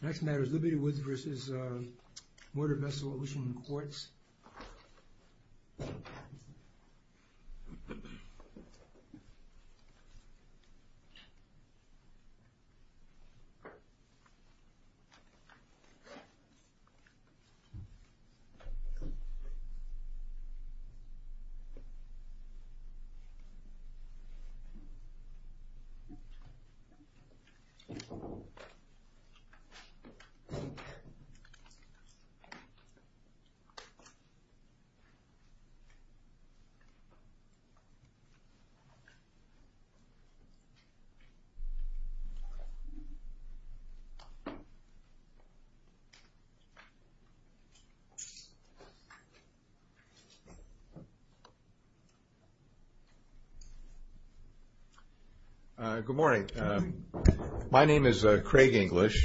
The next matter is Liberty Woods v. Motor Vessel Ocean Quartz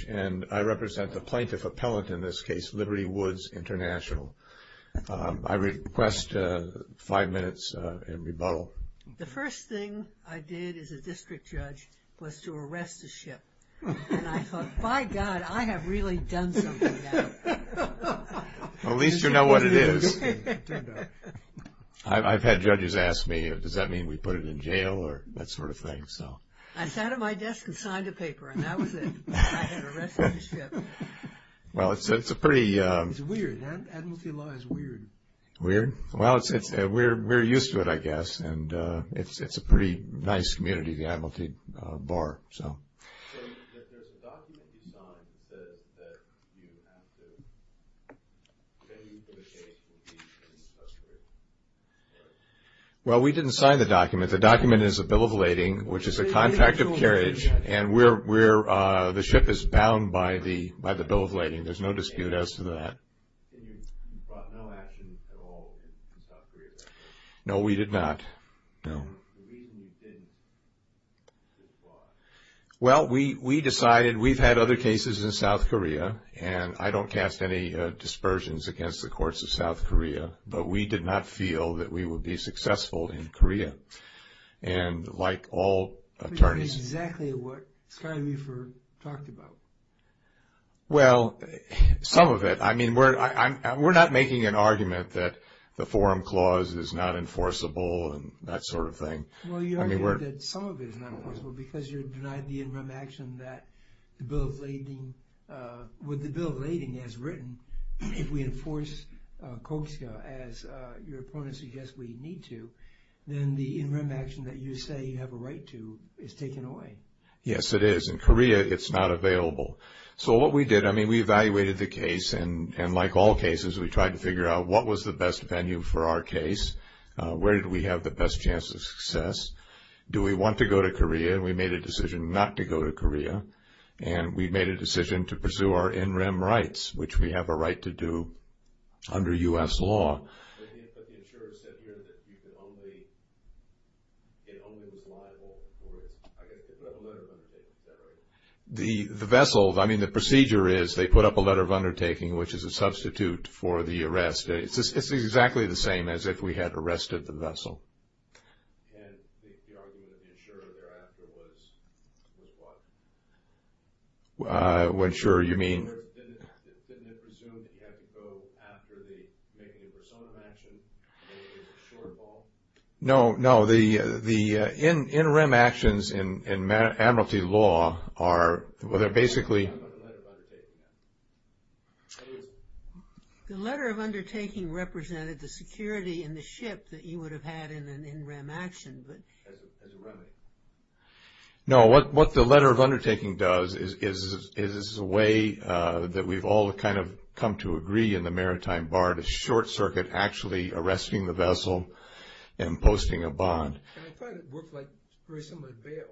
and I represent the plaintiff appellant in this case, Liberty Woods International. I request five minutes in rebuttal. The first thing I did as a district judge was to arrest the ship. And I thought, by God, I have really done something now. At least you know what it is. I've had judges ask me, does that mean we put it in jail or that sort of thing. I sat at my desk and signed a paper and that was it. I had arrested the ship. Well, it's a pretty... It's weird. Admiralty Law is weird. Weird? Well, we're used to it, I guess. And it's a pretty nice community, the Admiralty Bar, so... So, there's a document you signed that you have to... Well, we didn't sign the document. The document is a bill of lading, which is a contract of carriage, and the ship is bound by the bill of lading. There's no dispute as to that. You brought no action at all in South Korea? No, we did not, no. The reason you didn't... Well, we decided... We've had other cases in South Korea, and I don't cast any dispersions against the courts of South Korea, but we did not feel that we would be successful in Korea. And like all attorneys... Which is exactly what Scott Riefer talked about. Well, some of it. I mean, we're not making an argument that the forum clause is not enforceable and that sort of thing. Well, you argue that some of it is not enforceable because you're denying the interim action that the bill of lading... as your opponent suggests we need to, then the interim action that you say you have a right to is taken away. Yes, it is. In Korea, it's not available. So what we did, I mean, we evaluated the case, and like all cases, we tried to figure out what was the best venue for our case, where did we have the best chance of success, do we want to go to Korea, and we made a decision not to go to Korea, and we made a decision to pursue our interim rights, which we have a right to do under U.S. law. But the insurer said here that it only was liable for a letter of undertaking. Is that right? The vessel, I mean, the procedure is they put up a letter of undertaking, which is a substitute for the arrest. It's exactly the same as if we had arrested the vessel. And the argument of the insurer thereafter was what? What insurer, you mean? Didn't it presume that you had to go after the negative persona of action? Maybe it was a shortfall? No, no. The interim actions in admiralty law are basically. What about the letter of undertaking? The letter of undertaking represented the security in the ship that you would have had in an interim action. As a remedy. No, what the letter of undertaking does is it's a way that we've all kind of come to agree in the maritime bar to short circuit actually arresting the vessel and posting a bond. And I thought it worked like very similar to bail.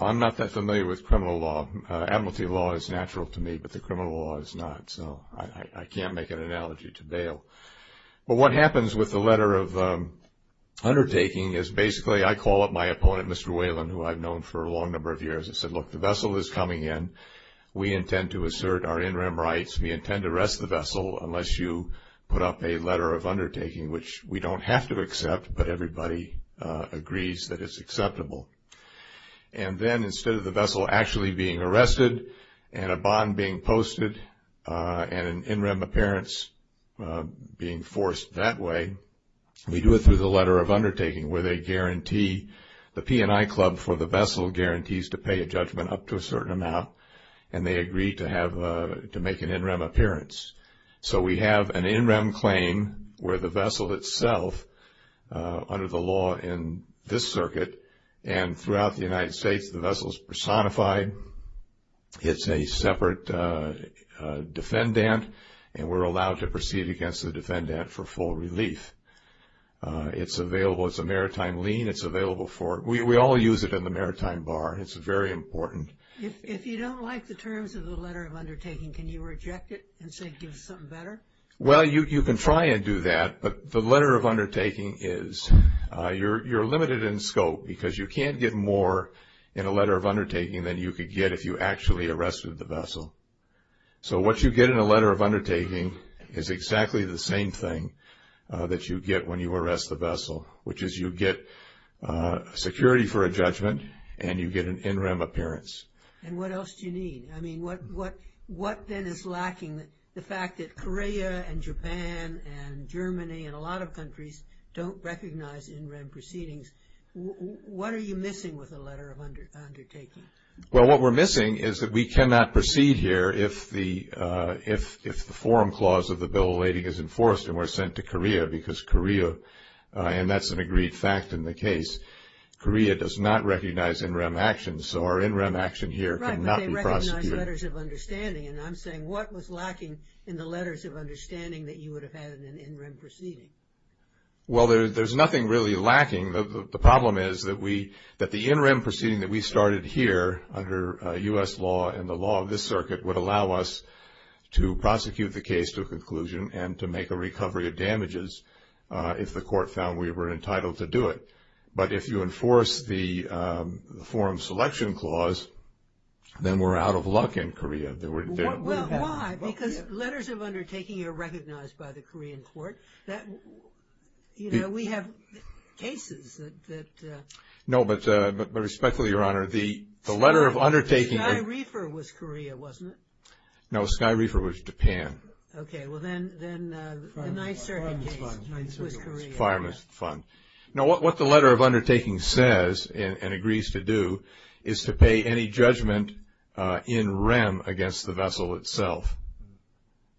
I'm not that familiar with criminal law. Admiralty law is natural to me, but the criminal law is not, so I can't make an analogy to bail. But what happens with the letter of undertaking is basically I call up my opponent, Mr. Whelan, who I've known for a long number of years. I said, look, the vessel is coming in. We intend to assert our interim rights. We intend to arrest the vessel unless you put up a letter of undertaking, which we don't have to accept, but everybody agrees that it's acceptable. And then instead of the vessel actually being arrested and a bond being posted and an interim appearance being forced that way, we do it through the letter of undertaking where the P&I Club for the vessel guarantees to pay a judgment up to a certain amount and they agree to make an interim appearance. So we have an interim claim where the vessel itself under the law in this circuit and throughout the United States the vessel is personified. It's a separate defendant, and we're allowed to proceed against the defendant for full relief. It's available. It's a maritime lien. It's available for it. We all use it in the maritime bar. It's very important. If you don't like the terms of the letter of undertaking, can you reject it and say give us something better? Well, you can try and do that, but the letter of undertaking is you're limited in scope because you can't get more in a letter of undertaking than you could get if you actually arrested the vessel. So what you get in a letter of undertaking is exactly the same thing that you get when you arrest the vessel, which is you get security for a judgment and you get an interim appearance. And what else do you need? I mean, what then is lacking? The fact that Korea and Japan and Germany and a lot of countries don't recognize interim proceedings. What are you missing with the letter of undertaking? Well, what we're missing is that we cannot proceed here if the forum clause of the Bill of Lading is enforced and we're sent to Korea because Korea, and that's an agreed fact in the case, Korea does not recognize interim actions, so our interim action here cannot be prosecuted. Right, but they recognize letters of understanding, and I'm saying what was lacking in the letters of understanding that you would have had in an interim proceeding? Well, there's nothing really lacking. The problem is that the interim proceeding that we started here under U.S. law and the law of this circuit would allow us to prosecute the case to a conclusion and to make a recovery of damages if the court found we were entitled to do it. But if you enforce the forum selection clause, then we're out of luck in Korea. Well, why? Because letters of undertaking are recognized by the Korean court. You know, we have cases that... No, but respectfully, Your Honor, the letter of undertaking... Sky Reefer was Korea, wasn't it? No, Sky Reefer was Japan. Okay, well, then the 9th Circuit case was Korea. Fireman's Fund. Now, what the letter of undertaking says and agrees to do is to pay any judgment in rem against the vessel itself.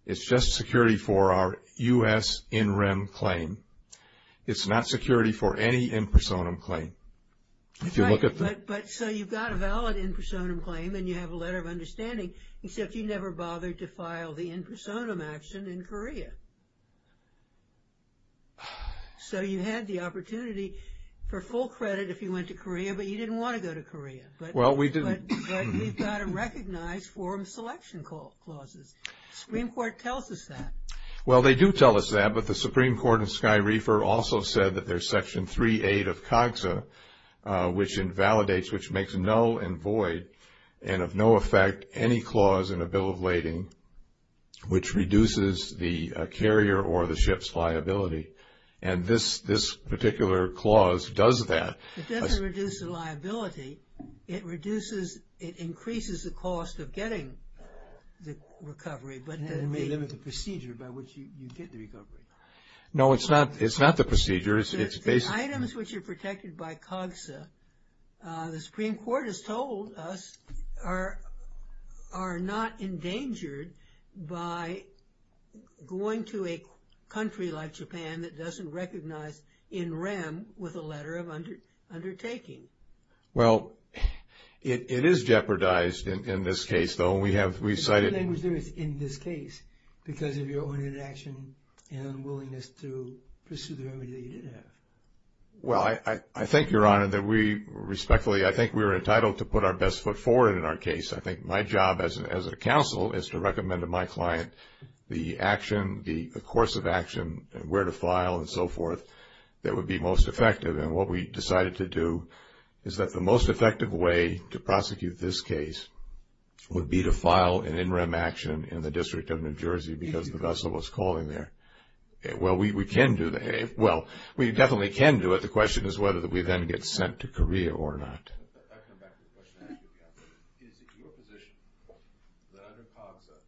It's just security for our U.S. in rem claim. It's not security for any in personam claim. If you look at the... Right, but so you've got a valid in personam claim, and you have a letter of understanding, So you had the opportunity for full credit if you went to Korea, but you didn't want to go to Korea. Well, we didn't. But you've got to recognize forum selection clauses. The Supreme Court tells us that. Well, they do tell us that, but the Supreme Court and Sky Reefer also said that there's Section 3A of COGSA, which invalidates, which makes null and void, and of no effect any clause in a bill of lading, which reduces the carrier or the ship's liability. And this particular clause does that. It doesn't reduce the liability. It reduces... It increases the cost of getting the recovery, but... It may limit the procedure by which you get the recovery. No, it's not. It's not the procedure. It's basically... The items which are protected by COGSA, the Supreme Court has told us, are not endangered by going to a country like Japan that doesn't recognize NREM with a letter of undertaking. Well, it is jeopardized in this case, though. We have... The only thing that was jeopardized in this case because of your own inaction and unwillingness to pursue the remedy that you did have. Well, I think, Your Honor, that we respectfully... I think we were entitled to put our best foot forward in our case. I think my job as a counsel is to recommend to my client the action, the course of action, where to file and so forth that would be most effective. And what we decided to do is that the most effective way to prosecute this case would be to file an NREM action in the District of New Jersey because the vessel was calling there. Well, we can do that. Well, we definitely can do it. The question is whether we then get sent to Korea or not. I'll come back to the question. Is it your position that under COGSA,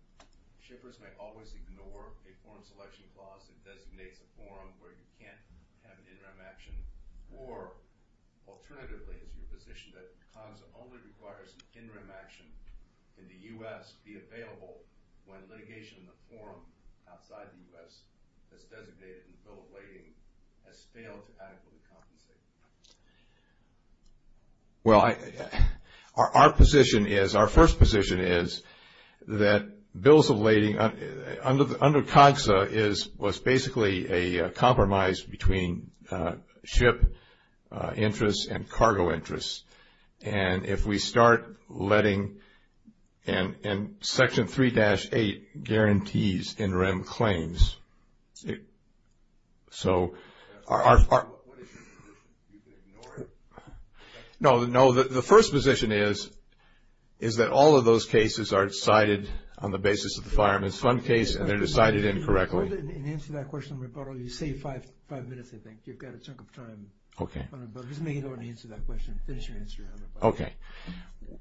shippers may always ignore a foreign selection clause that designates a forum where you can't have an NREM action? Or, alternatively, is it your position that COGSA only requires an NREM action in the U.S. be available when litigation in the forum outside the U.S. that's designated in the Bill of Lading has failed to adequately compensate? Well, our position is, our first position is that Bills of Lading under COGSA was basically a compromise between ship interests and cargo interests. And if we start letting – and Section 3-8 guarantees NREM claims. No, the first position is that all of those cases are decided on the basis of the Fireman's Fund case and they're decided incorrectly. Hold it and answer that question in rebuttal. You saved five minutes, I think. You've got a chunk of time. Okay. Just make sure you don't answer that question. Finish your answer in rebuttal. Okay.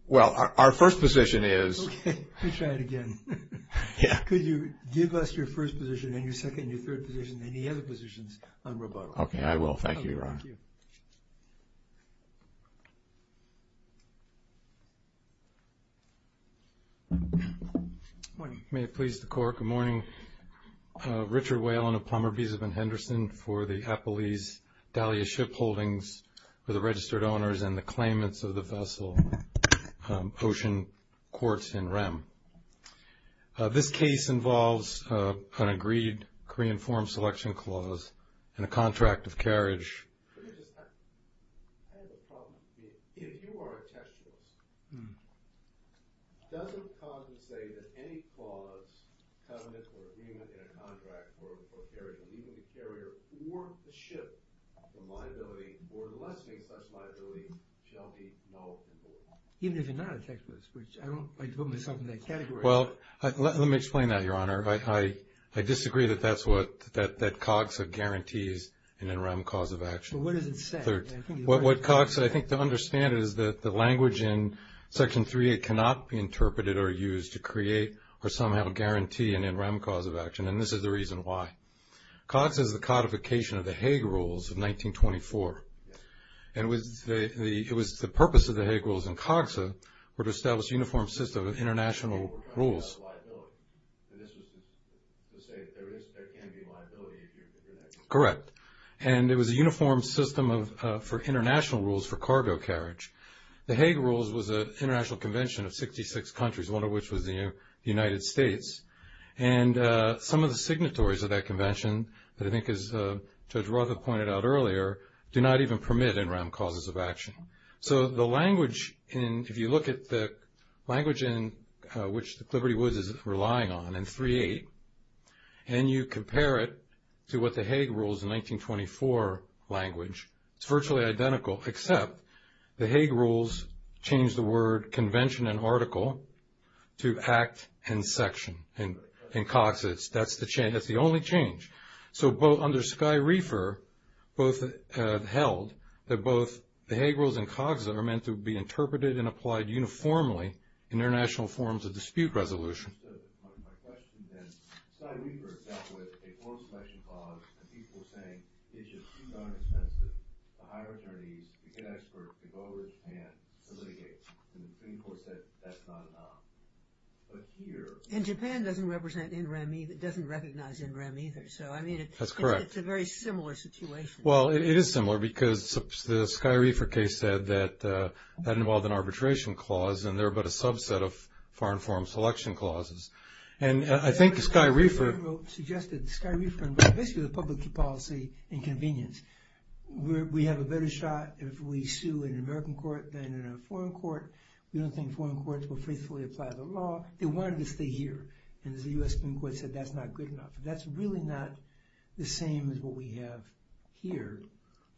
Well, our first position is – Okay. Let me try it again. Yeah. Could you give us your first position and your second and your third position and the other positions on rebuttal? Okay, I will. Thank you, Ron. Thank you. Good morning. May it please the Court. Good morning. Richard Whalen of Plumberby's. I've been Henderson for the Appalese Dahlia Ship Holdings for the registered owners and the claimants of the vessel Ocean Quartz NREM. This case involves an agreed Korean Forum Selection Clause and a contract of carriage. I have a problem with this. If you are a textualist, does it come to say that any clause, covenant, or agreement in a contract for a carriage, leaving the carrier or the ship for liability or lessening such liability, shall be null and void? Even if you're not a textualist, which I don't put myself in that category. Well, let me explain that, Your Honor. I disagree that COGSA guarantees an NREM cause of action. But what does it say? What COGSA, I think to understand it, is that the language in Section 3 cannot be interpreted or used to create or somehow guarantee an NREM cause of action, and this is the reason why. COGSA is the codification of the Hague Rules of 1924, and it was the purpose of the Hague Rules and COGSA were to establish a uniform system of international rules. And this was to say that there can be liability if you do that. Correct. And it was a uniform system for international rules for cargo carriage. The Hague Rules was an international convention of 66 countries, one of which was the United States. And some of the signatories of that convention, that I think as Judge Roth had pointed out earlier, do not even permit NREM causes of action. So the language in – if you look at the language in which the Liberty Woods is relying on in 3.8 and you compare it to what the Hague Rules in 1924 language, it's virtually identical except the Hague Rules changed the word convention and article to act and section in COGSA. That's the only change. So under Skye Reefer, both held that both the Hague Rules and COGSA are meant to be interpreted and applied uniformly in international forms of dispute resolution. And Japan doesn't represent NREM – doesn't recognize NREM either. So, I mean – That's correct. It's a very similar situation. Well, it is similar because the Skye Reefer case said that that involved an arbitration clause and there but a subset of foreign forum selection clauses. And I think Skye Reefer – Suggested Skye Reefer basically the public policy inconvenience. We have a better shot if we sue in an American court than in a foreign court. We don't think foreign courts will faithfully apply the law. They wanted to stay here. And the U.S. Supreme Court said that's not good enough. That's really not the same as what we have here.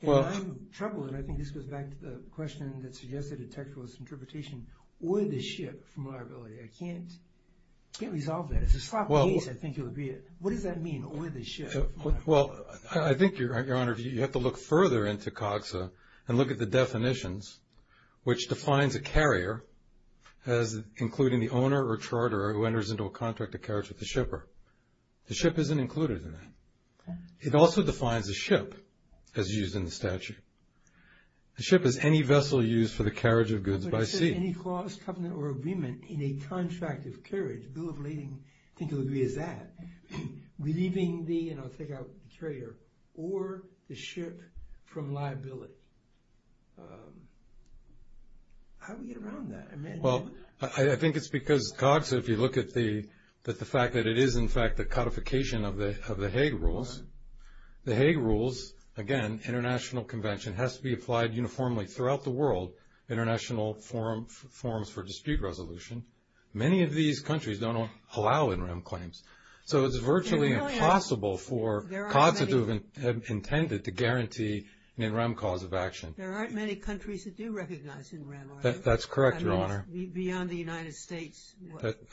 Well – And I'm troubled and I think this goes back to the question that suggested a textualist interpretation or the ship from liability. I can't resolve that. It's a sloppy case. I think you'll agree it. What does that mean, or the ship? Well, I think, Your Honor, you have to look further into COGSA and look at the definitions which defines a carrier as including the owner or charterer who enters into a contract of carriage with the shipper. The ship isn't included in that. It also defines the ship as used in the statute. The ship is any vessel used for the carriage of goods by sea. But it says any clause, covenant, or agreement in a contract of carriage, bill of lading, I think you'll agree is that, relieving the, you know, take-out carrier or the ship from liability. How do we get around that? Well, I think it's because COGSA, if you look at the fact that it is, in fact, the codification of the Hague Rules. The Hague Rules, again, international convention, has to be applied uniformly throughout the world, international forums for dispute resolution. Many of these countries don't allow NREM claims. So it's virtually impossible for COGSA to have intended to guarantee an NREM cause of action. There aren't many countries that do recognize NREM, are there? That's correct, Your Honor. Beyond the United States?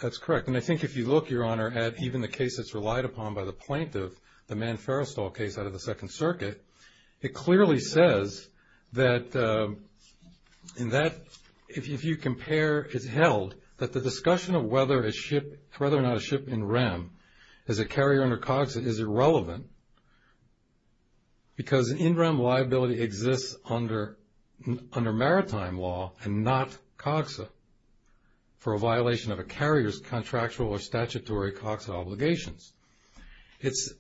That's correct. And I think if you look, Your Honor, at even the case that's relied upon by the plaintiff, the Mann-Ferrestall case out of the Second Circuit, it clearly says that if you compare, it's held, that the discussion of whether or not a ship NREM is a carrier under COGSA is irrelevant because NREM liability exists under maritime law and not COGSA for a violation of a carrier's contractual or statutory COGSA obligations. It's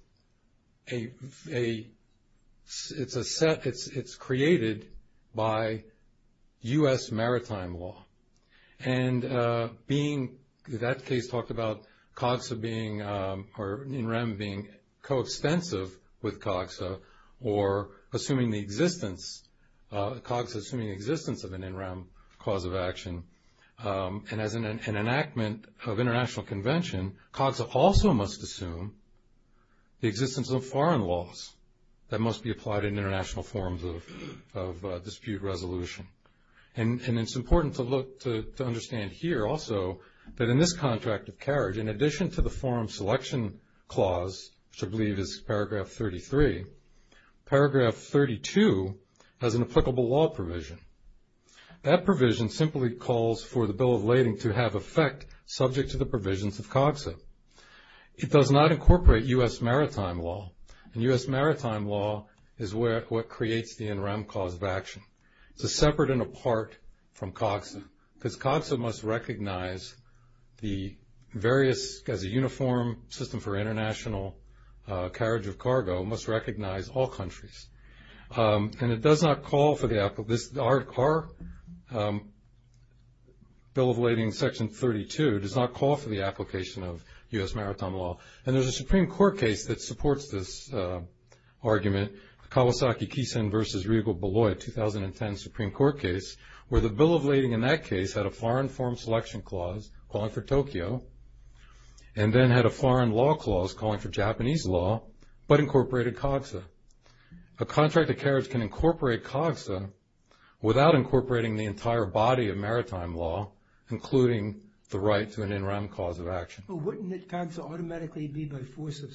a set, it's created by U.S. maritime law. And being, that case talked about COGSA being, or assuming the existence, COGSA assuming the existence of an NREM cause of action. And as an enactment of international convention, COGSA also must assume the existence of foreign laws that must be applied in international forms of dispute resolution. And it's important to look, to understand here also, that in this contract of carriage, in addition to the forum selection clause, which I believe is paragraph 33, paragraph 32 has an applicable law provision. That provision simply calls for the bill of lading to have effect subject to the provisions of COGSA. It does not incorporate U.S. maritime law, and U.S. maritime law is what creates the NREM cause of action. It's a separate and apart from COGSA because COGSA must recognize the various, as a uniform system for international carriage of cargo, must recognize all countries. And it does not call for the, our bill of lading, section 32, does not call for the application of U.S. maritime law. And there's a Supreme Court case that supports this argument, Kawasaki-Keison v. Riegel-Balloy, 2010 Supreme Court case, where the bill of lading in that case had a foreign forum selection clause calling for Tokyo, and then had a foreign law clause calling for Japanese law, but incorporated COGSA. A contract of carriage can incorporate COGSA without incorporating the entire body of maritime law, including the right to an NREM cause of action. But wouldn't COGSA automatically be by force of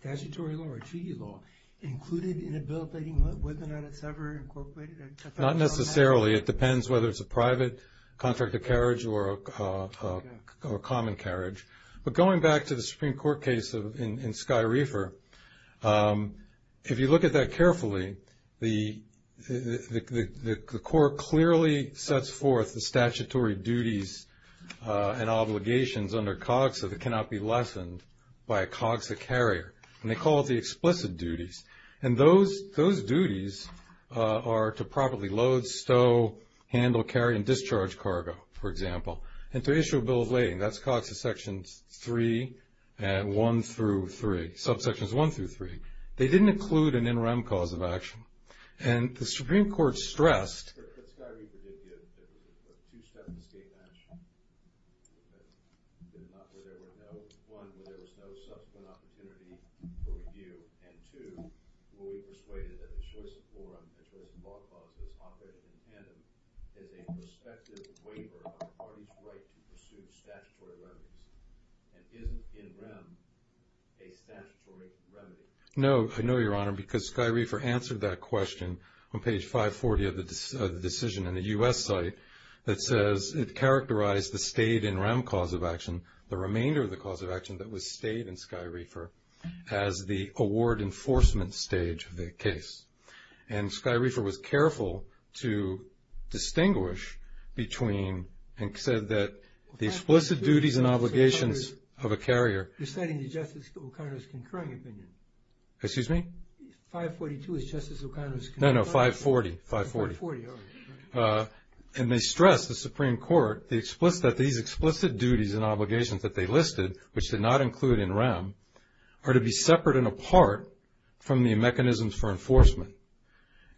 statutory law or treaty law, included in a bill of lading whether or not it's ever incorporated? Not necessarily. It depends whether it's a private contract of carriage or a common carriage. But going back to the Supreme Court case in Sky Reefer, if you look at that carefully, the court clearly sets forth the statutory duties and obligations under COGSA that cannot be lessened by a COGSA carrier. And they call it the explicit duties. And those duties are to properly load, stow, handle, carry, and discharge cargo, for example. And to issue a bill of lading, that's COGSA sections 3 and 1 through 3, subsections 1 through 3. They didn't include an NREM cause of action. And the Supreme Court stressed But Sky Reefer did give a two-step escape match. One, where there was no subsequent opportunity for review. And two, where we persuaded that the choice of forum as well as the ballpark of this op-ed in tandem is a prospective waiver on the party's right to pursue statutory remedies and isn't NREM a statutory remedy. No, I know, Your Honor, because Sky Reefer answered that question on page 540 of the decision in a U.S. site that says it characterized the stayed NREM cause of action, the remainder of the cause of action that was stayed in Sky Reefer, as the award enforcement stage of the case. And Sky Reefer was careful to distinguish between and said that the explicit duties and obligations of a carrier You're stating Justice O'Connor's concurring opinion. Excuse me? 542 is Justice O'Connor's No, no, 540, 540. 540, all right. And they stress, the Supreme Court, that these explicit duties and obligations that they listed, which did not include NREM, are to be separate and apart from the mechanisms for enforcement.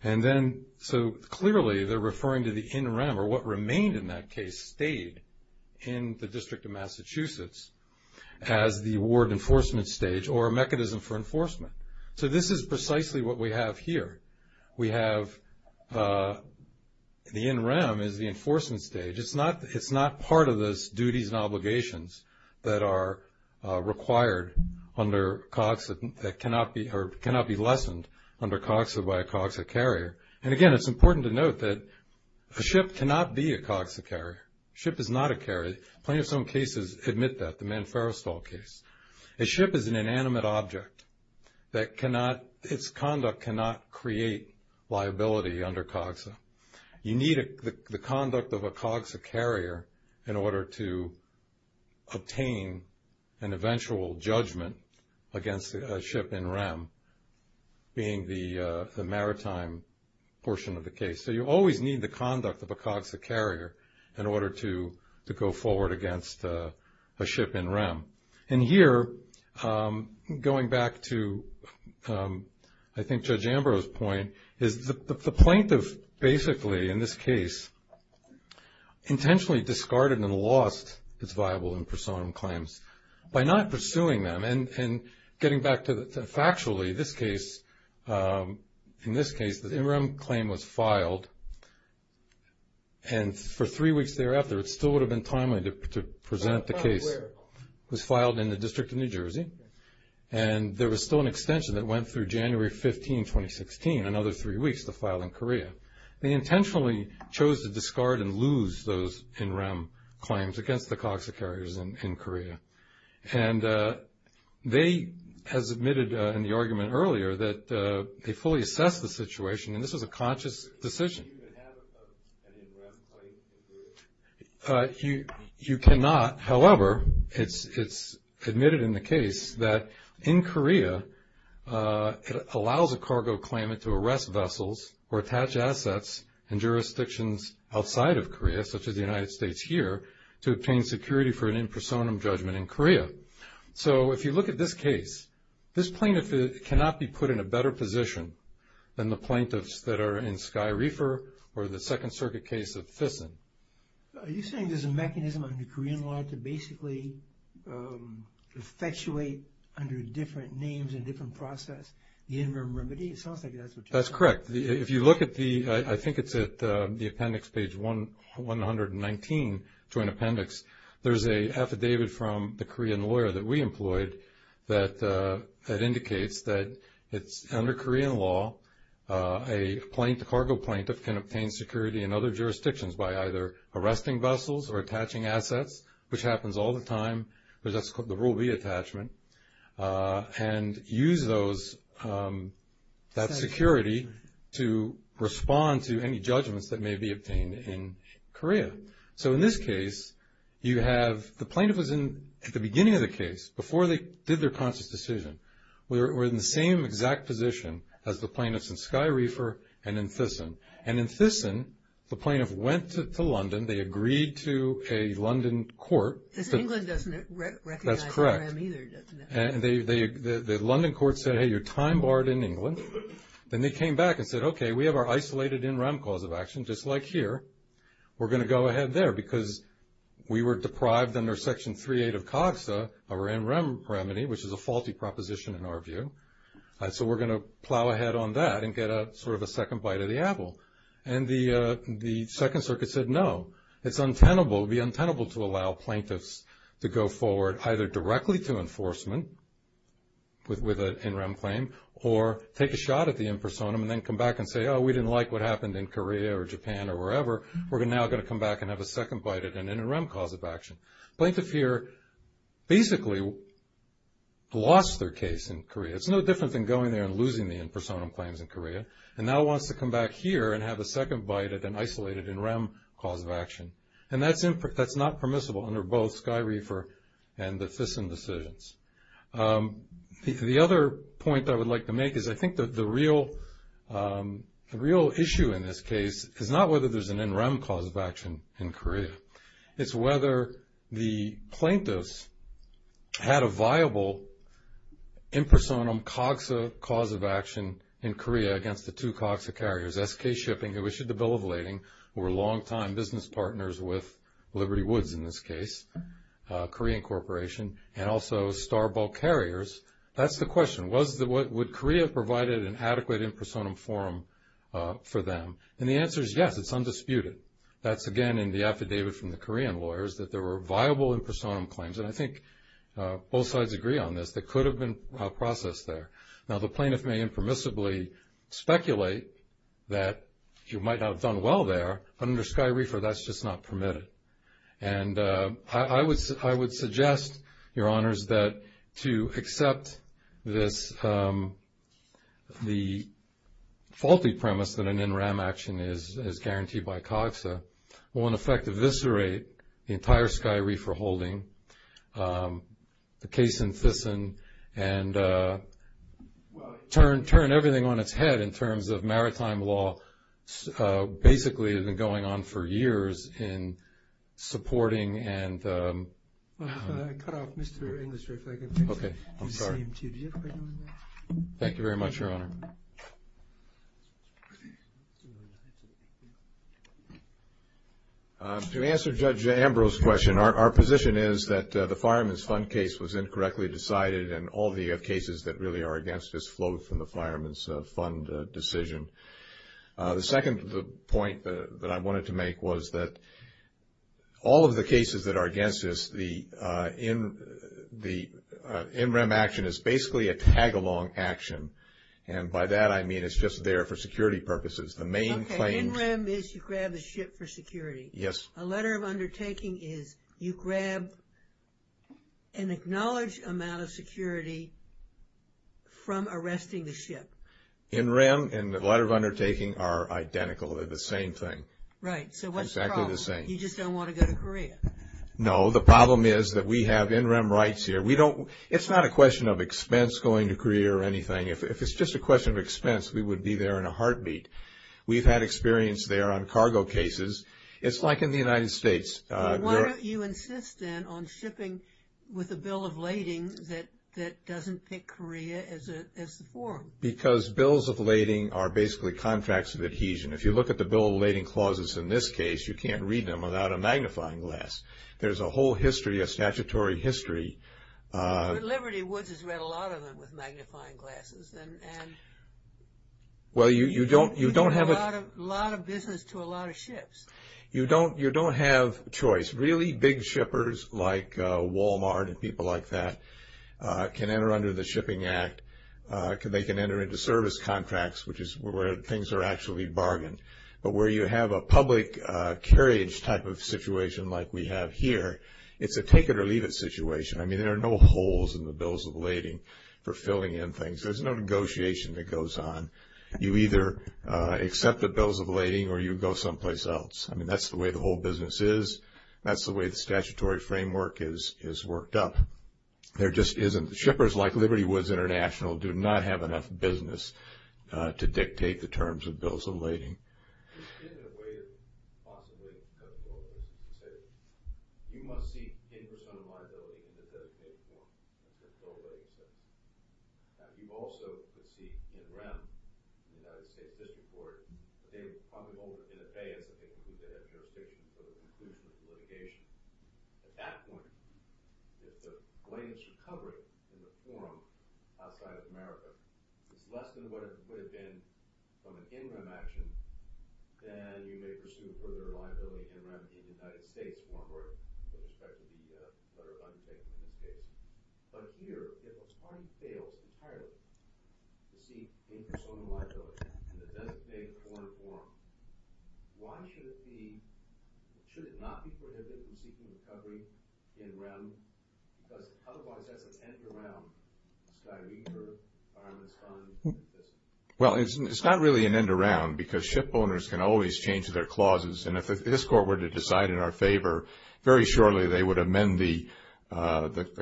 And then, so clearly, they're referring to the NREM, or what remained in that case, stayed in the District of Massachusetts as the award enforcement stage or a mechanism for enforcement. So this is precisely what we have here. We have the NREM as the enforcement stage. It's not part of those duties and obligations that are required under COGSA that cannot be lessened under COGSA by a COGSA carrier. And, again, it's important to note that a ship cannot be a COGSA carrier. A ship is not a carrier. Plenty of some cases admit that. The Manferestall case. A ship is an inanimate object that cannot – its conduct cannot create liability under COGSA. You need the conduct of a COGSA carrier in order to obtain an eventual judgment against a ship NREM, being the maritime portion of the case. So you always need the conduct of a COGSA carrier in order to go forward against a ship NREM. And here, going back to, I think, Judge Ambrose's point, is the plaintiff basically, in this case, intentionally discarded and lost its viable and persona claims by not pursuing them. And getting back to factually, in this case, the NREM claim was filed, and for three weeks thereafter it still would have been timely to present the case. It was filed in the District of New Jersey, and there was still an extension that went through January 15, 2016, another three weeks to file in Korea. They intentionally chose to discard and lose those NREM claims against the COGSA carriers in Korea. And they, as admitted in the argument earlier, that they fully assessed the situation, and this was a conscious decision. You cannot, however, it's admitted in the case, that in Korea it allows a cargo claimant to arrest vessels or attach assets in jurisdictions outside of Korea, such as the United States here, to obtain security for an impersonum judgment in Korea. So, if you look at this case, this plaintiff cannot be put in a better position than the plaintiffs that are in Sky Reefer or the Second Circuit case of Thyssen. Are you saying there's a mechanism under Korean law to basically effectuate, under different names and different process, the NREM remedy? It sounds like that's what you're saying. That's correct. If you look at the, I think it's at the appendix, page 119 to an appendix, there's an affidavit from the Korean lawyer that we employed that indicates that it's, under Korean law, a cargo plaintiff can obtain security in other jurisdictions by either arresting vessels or attaching assets, which happens all the time, because that's called the Rule B attachment, and use those, that security to respond to any judgments that may be obtained in Korea. So, in this case, you have, the plaintiff was in, at the beginning of the case, before they did their conscious decision, were in the same exact position as the plaintiffs in Sky Reefer and in Thyssen. And in Thyssen, the plaintiff went to London, they agreed to a London court. Because England doesn't recognize NREM either, does it? That's correct. And the London court said, hey, you're time barred in England. Then they came back and said, okay, we have our isolated NREM cause of action, just like here. We're going to go ahead there, because we were deprived under Section 3.8 of COGSA, our NREM remedy, which is a faulty proposition in our view, so we're going to plow ahead on that and get sort of a second bite of the apple. And the Second Circuit said, no, it's untenable, it would be untenable to allow plaintiffs to go forward either directly to enforcement with an NREM claim or take a shot at the impersonum and then come back and say, oh, we didn't like what happened in Korea or Japan or wherever. We're now going to come back and have a second bite at an NREM cause of action. The plaintiff here basically lost their case in Korea. It's no different than going there and losing the impersonum claims in Korea. And now it wants to come back here and have a second bite at an isolated NREM cause of action. And that's not permissible under both SkyReefer and the Thyssen decisions. The other point I would like to make is I think the real issue in this case is not whether there's an NREM cause of action in Korea. It's whether the plaintiffs had a viable impersonum COGSA cause of action in Korea against the two COGSA carriers, SK Shipping, who issued the bill of lading, were long-time business partners with Liberty Woods in this case, Korean Corporation, and also Starbull Carriers. That's the question. Would Korea have provided an adequate impersonum forum for them? And the answer is yes, it's undisputed. That's, again, in the affidavit from the Korean lawyers that there were viable impersonum claims, and I think both sides agree on this, that could have been processed there. Now, the plaintiff may impermissibly speculate that you might not have done well there. Under SkyReefer, that's just not permitted. And I would suggest, Your Honors, that to accept this, the faulty premise that an NREM action is guaranteed by COGSA, will, in effect, eviscerate the entire SkyReefer holding, the case in Thyssen, and turn everything on its head in terms of maritime law. Basically, it's been going on for years in supporting and- Well, if I could cut off Mr. Industry if I could please. Okay, I'm sorry. Thank you very much, Your Honor. To answer Judge Ambrose's question, our position is that the Fireman's Fund case was incorrectly decided, and all the cases that really are against this flow from the Fireman's Fund decision. The second point that I wanted to make was that all of the cases that are against this, the NREM action is basically a tag-along action, and by that I mean it's just there for security purposes. The main claim- Okay, NREM is you grab the ship for security. Yes. A letter of undertaking is you grab an acknowledged amount of security from arresting the ship. NREM and the letter of undertaking are identical, they're the same thing. Right, so what's the problem? Exactly the same. You just don't want to go to Korea? No, the problem is that we have NREM rights here. It's not a question of expense going to Korea or anything. If it's just a question of expense, we would be there in a heartbeat. We've had experience there on cargo cases. It's like in the United States. Why don't you insist then on shipping with a bill of lading that doesn't pick Korea as the forum? Because bills of lading are basically contracts of adhesion. If you look at the bill of lading clauses in this case, you can't read them without a magnifying glass. There's a whole history, a statutory history. Liberty Woods has read a lot of them with magnifying glasses. You don't have a lot of business to a lot of ships. You don't have choice. Really big shippers like Walmart and people like that can enter under the Shipping Act. They can enter into service contracts, which is where things are actually bargained. But where you have a public carriage type of situation like we have here, it's a take-it-or-leave-it situation. I mean, there are no holes in the bills of lading for filling in things. There's no negotiation that goes on. You either accept the bills of lading or you go someplace else. I mean, that's the way the whole business is. That's the way the statutory framework is worked up. There just isn't. Shippers like Liberty Woods International do not have enough business to dictate the terms of bills of lading. In a way, it's possibly a bill of lading decision. You must seek in persona liability in the designated form. That's a bill of lading decision. Now, you also could seek in rem in the United States District Court. But they would probably hold it in abeyance of people who did have jurisdiction for the conclusion of the litigation. At that point, if the blame is for covering in the forum outside of America, it's less than what it would have been from an in rem action, then you may pursue further liability in rem in the United States, or in respect to the letter of undertaking in the States. But here, if a client fails entirely to seek in persona liability in the designated form, why should it be – should it not be prohibited in seeking recovery in rem? Otherwise, that's an end around. Well, it's not really an end around because ship owners can always change their clauses. And if this court were to decide in our favor, very shortly they would amend the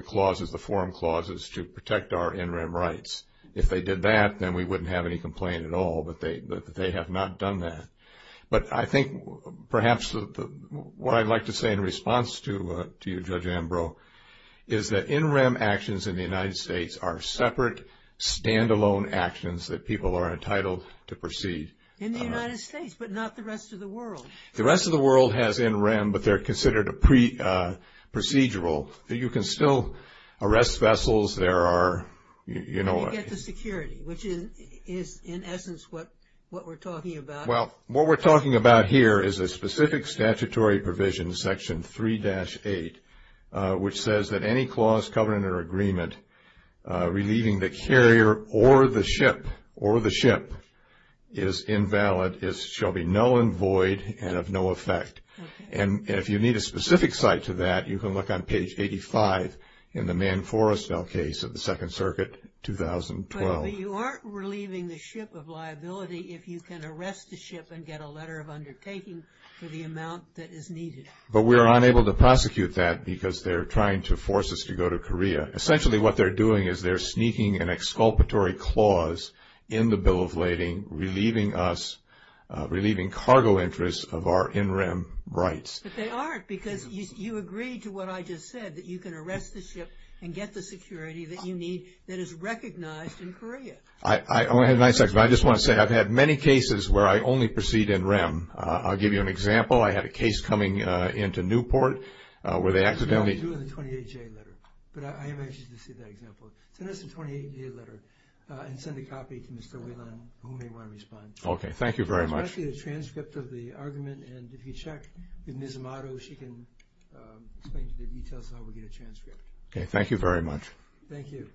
clauses, the forum clauses to protect our in rem rights. If they did that, then we wouldn't have any complaint at all that they have not done that. But I think perhaps what I'd like to say in response to you, Judge Ambrose, is that in rem actions in the United States are separate, stand-alone actions that people are entitled to proceed. In the United States, but not the rest of the world. The rest of the world has in rem, but they're considered procedural. You can still arrest vessels. There are, you know. You get the security, which is in essence what we're talking about. Well, what we're talking about here is a specific statutory provision, section 3-8, which says that any clause covered in our agreement relieving the carrier or the ship, or the ship, is invalid, shall be null and void, and of no effect. And if you need a specific site to that, you can look on page 85 in the Mann-Forrestale case of the Second Circuit, 2012. But you aren't relieving the ship of liability if you can arrest the ship and get a letter of undertaking for the amount that is needed. But we're unable to prosecute that because they're trying to force us to go to Korea. Essentially what they're doing is they're sneaking an exculpatory clause in the Bill of Lading, relieving us, relieving cargo interests of our in rem rights. But they aren't, because you agreed to what I just said, that you can arrest the ship and get the security that you need that is recognized in Korea. I only have nine seconds, but I just want to say I've had many cases where I only proceed in rem. I'll give you an example. I had a case coming into Newport where they accidentally. No, you do it in the 28-J letter. But I am anxious to see that example. Send us the 28-J letter and send a copy to Mr. Whelan, who may want to respond. Okay. Thank you very much. This is actually a transcript of the argument. And if you check with Ms. Amato, she can explain to the details how we get a transcript. Okay. Thank you very much. Thank you.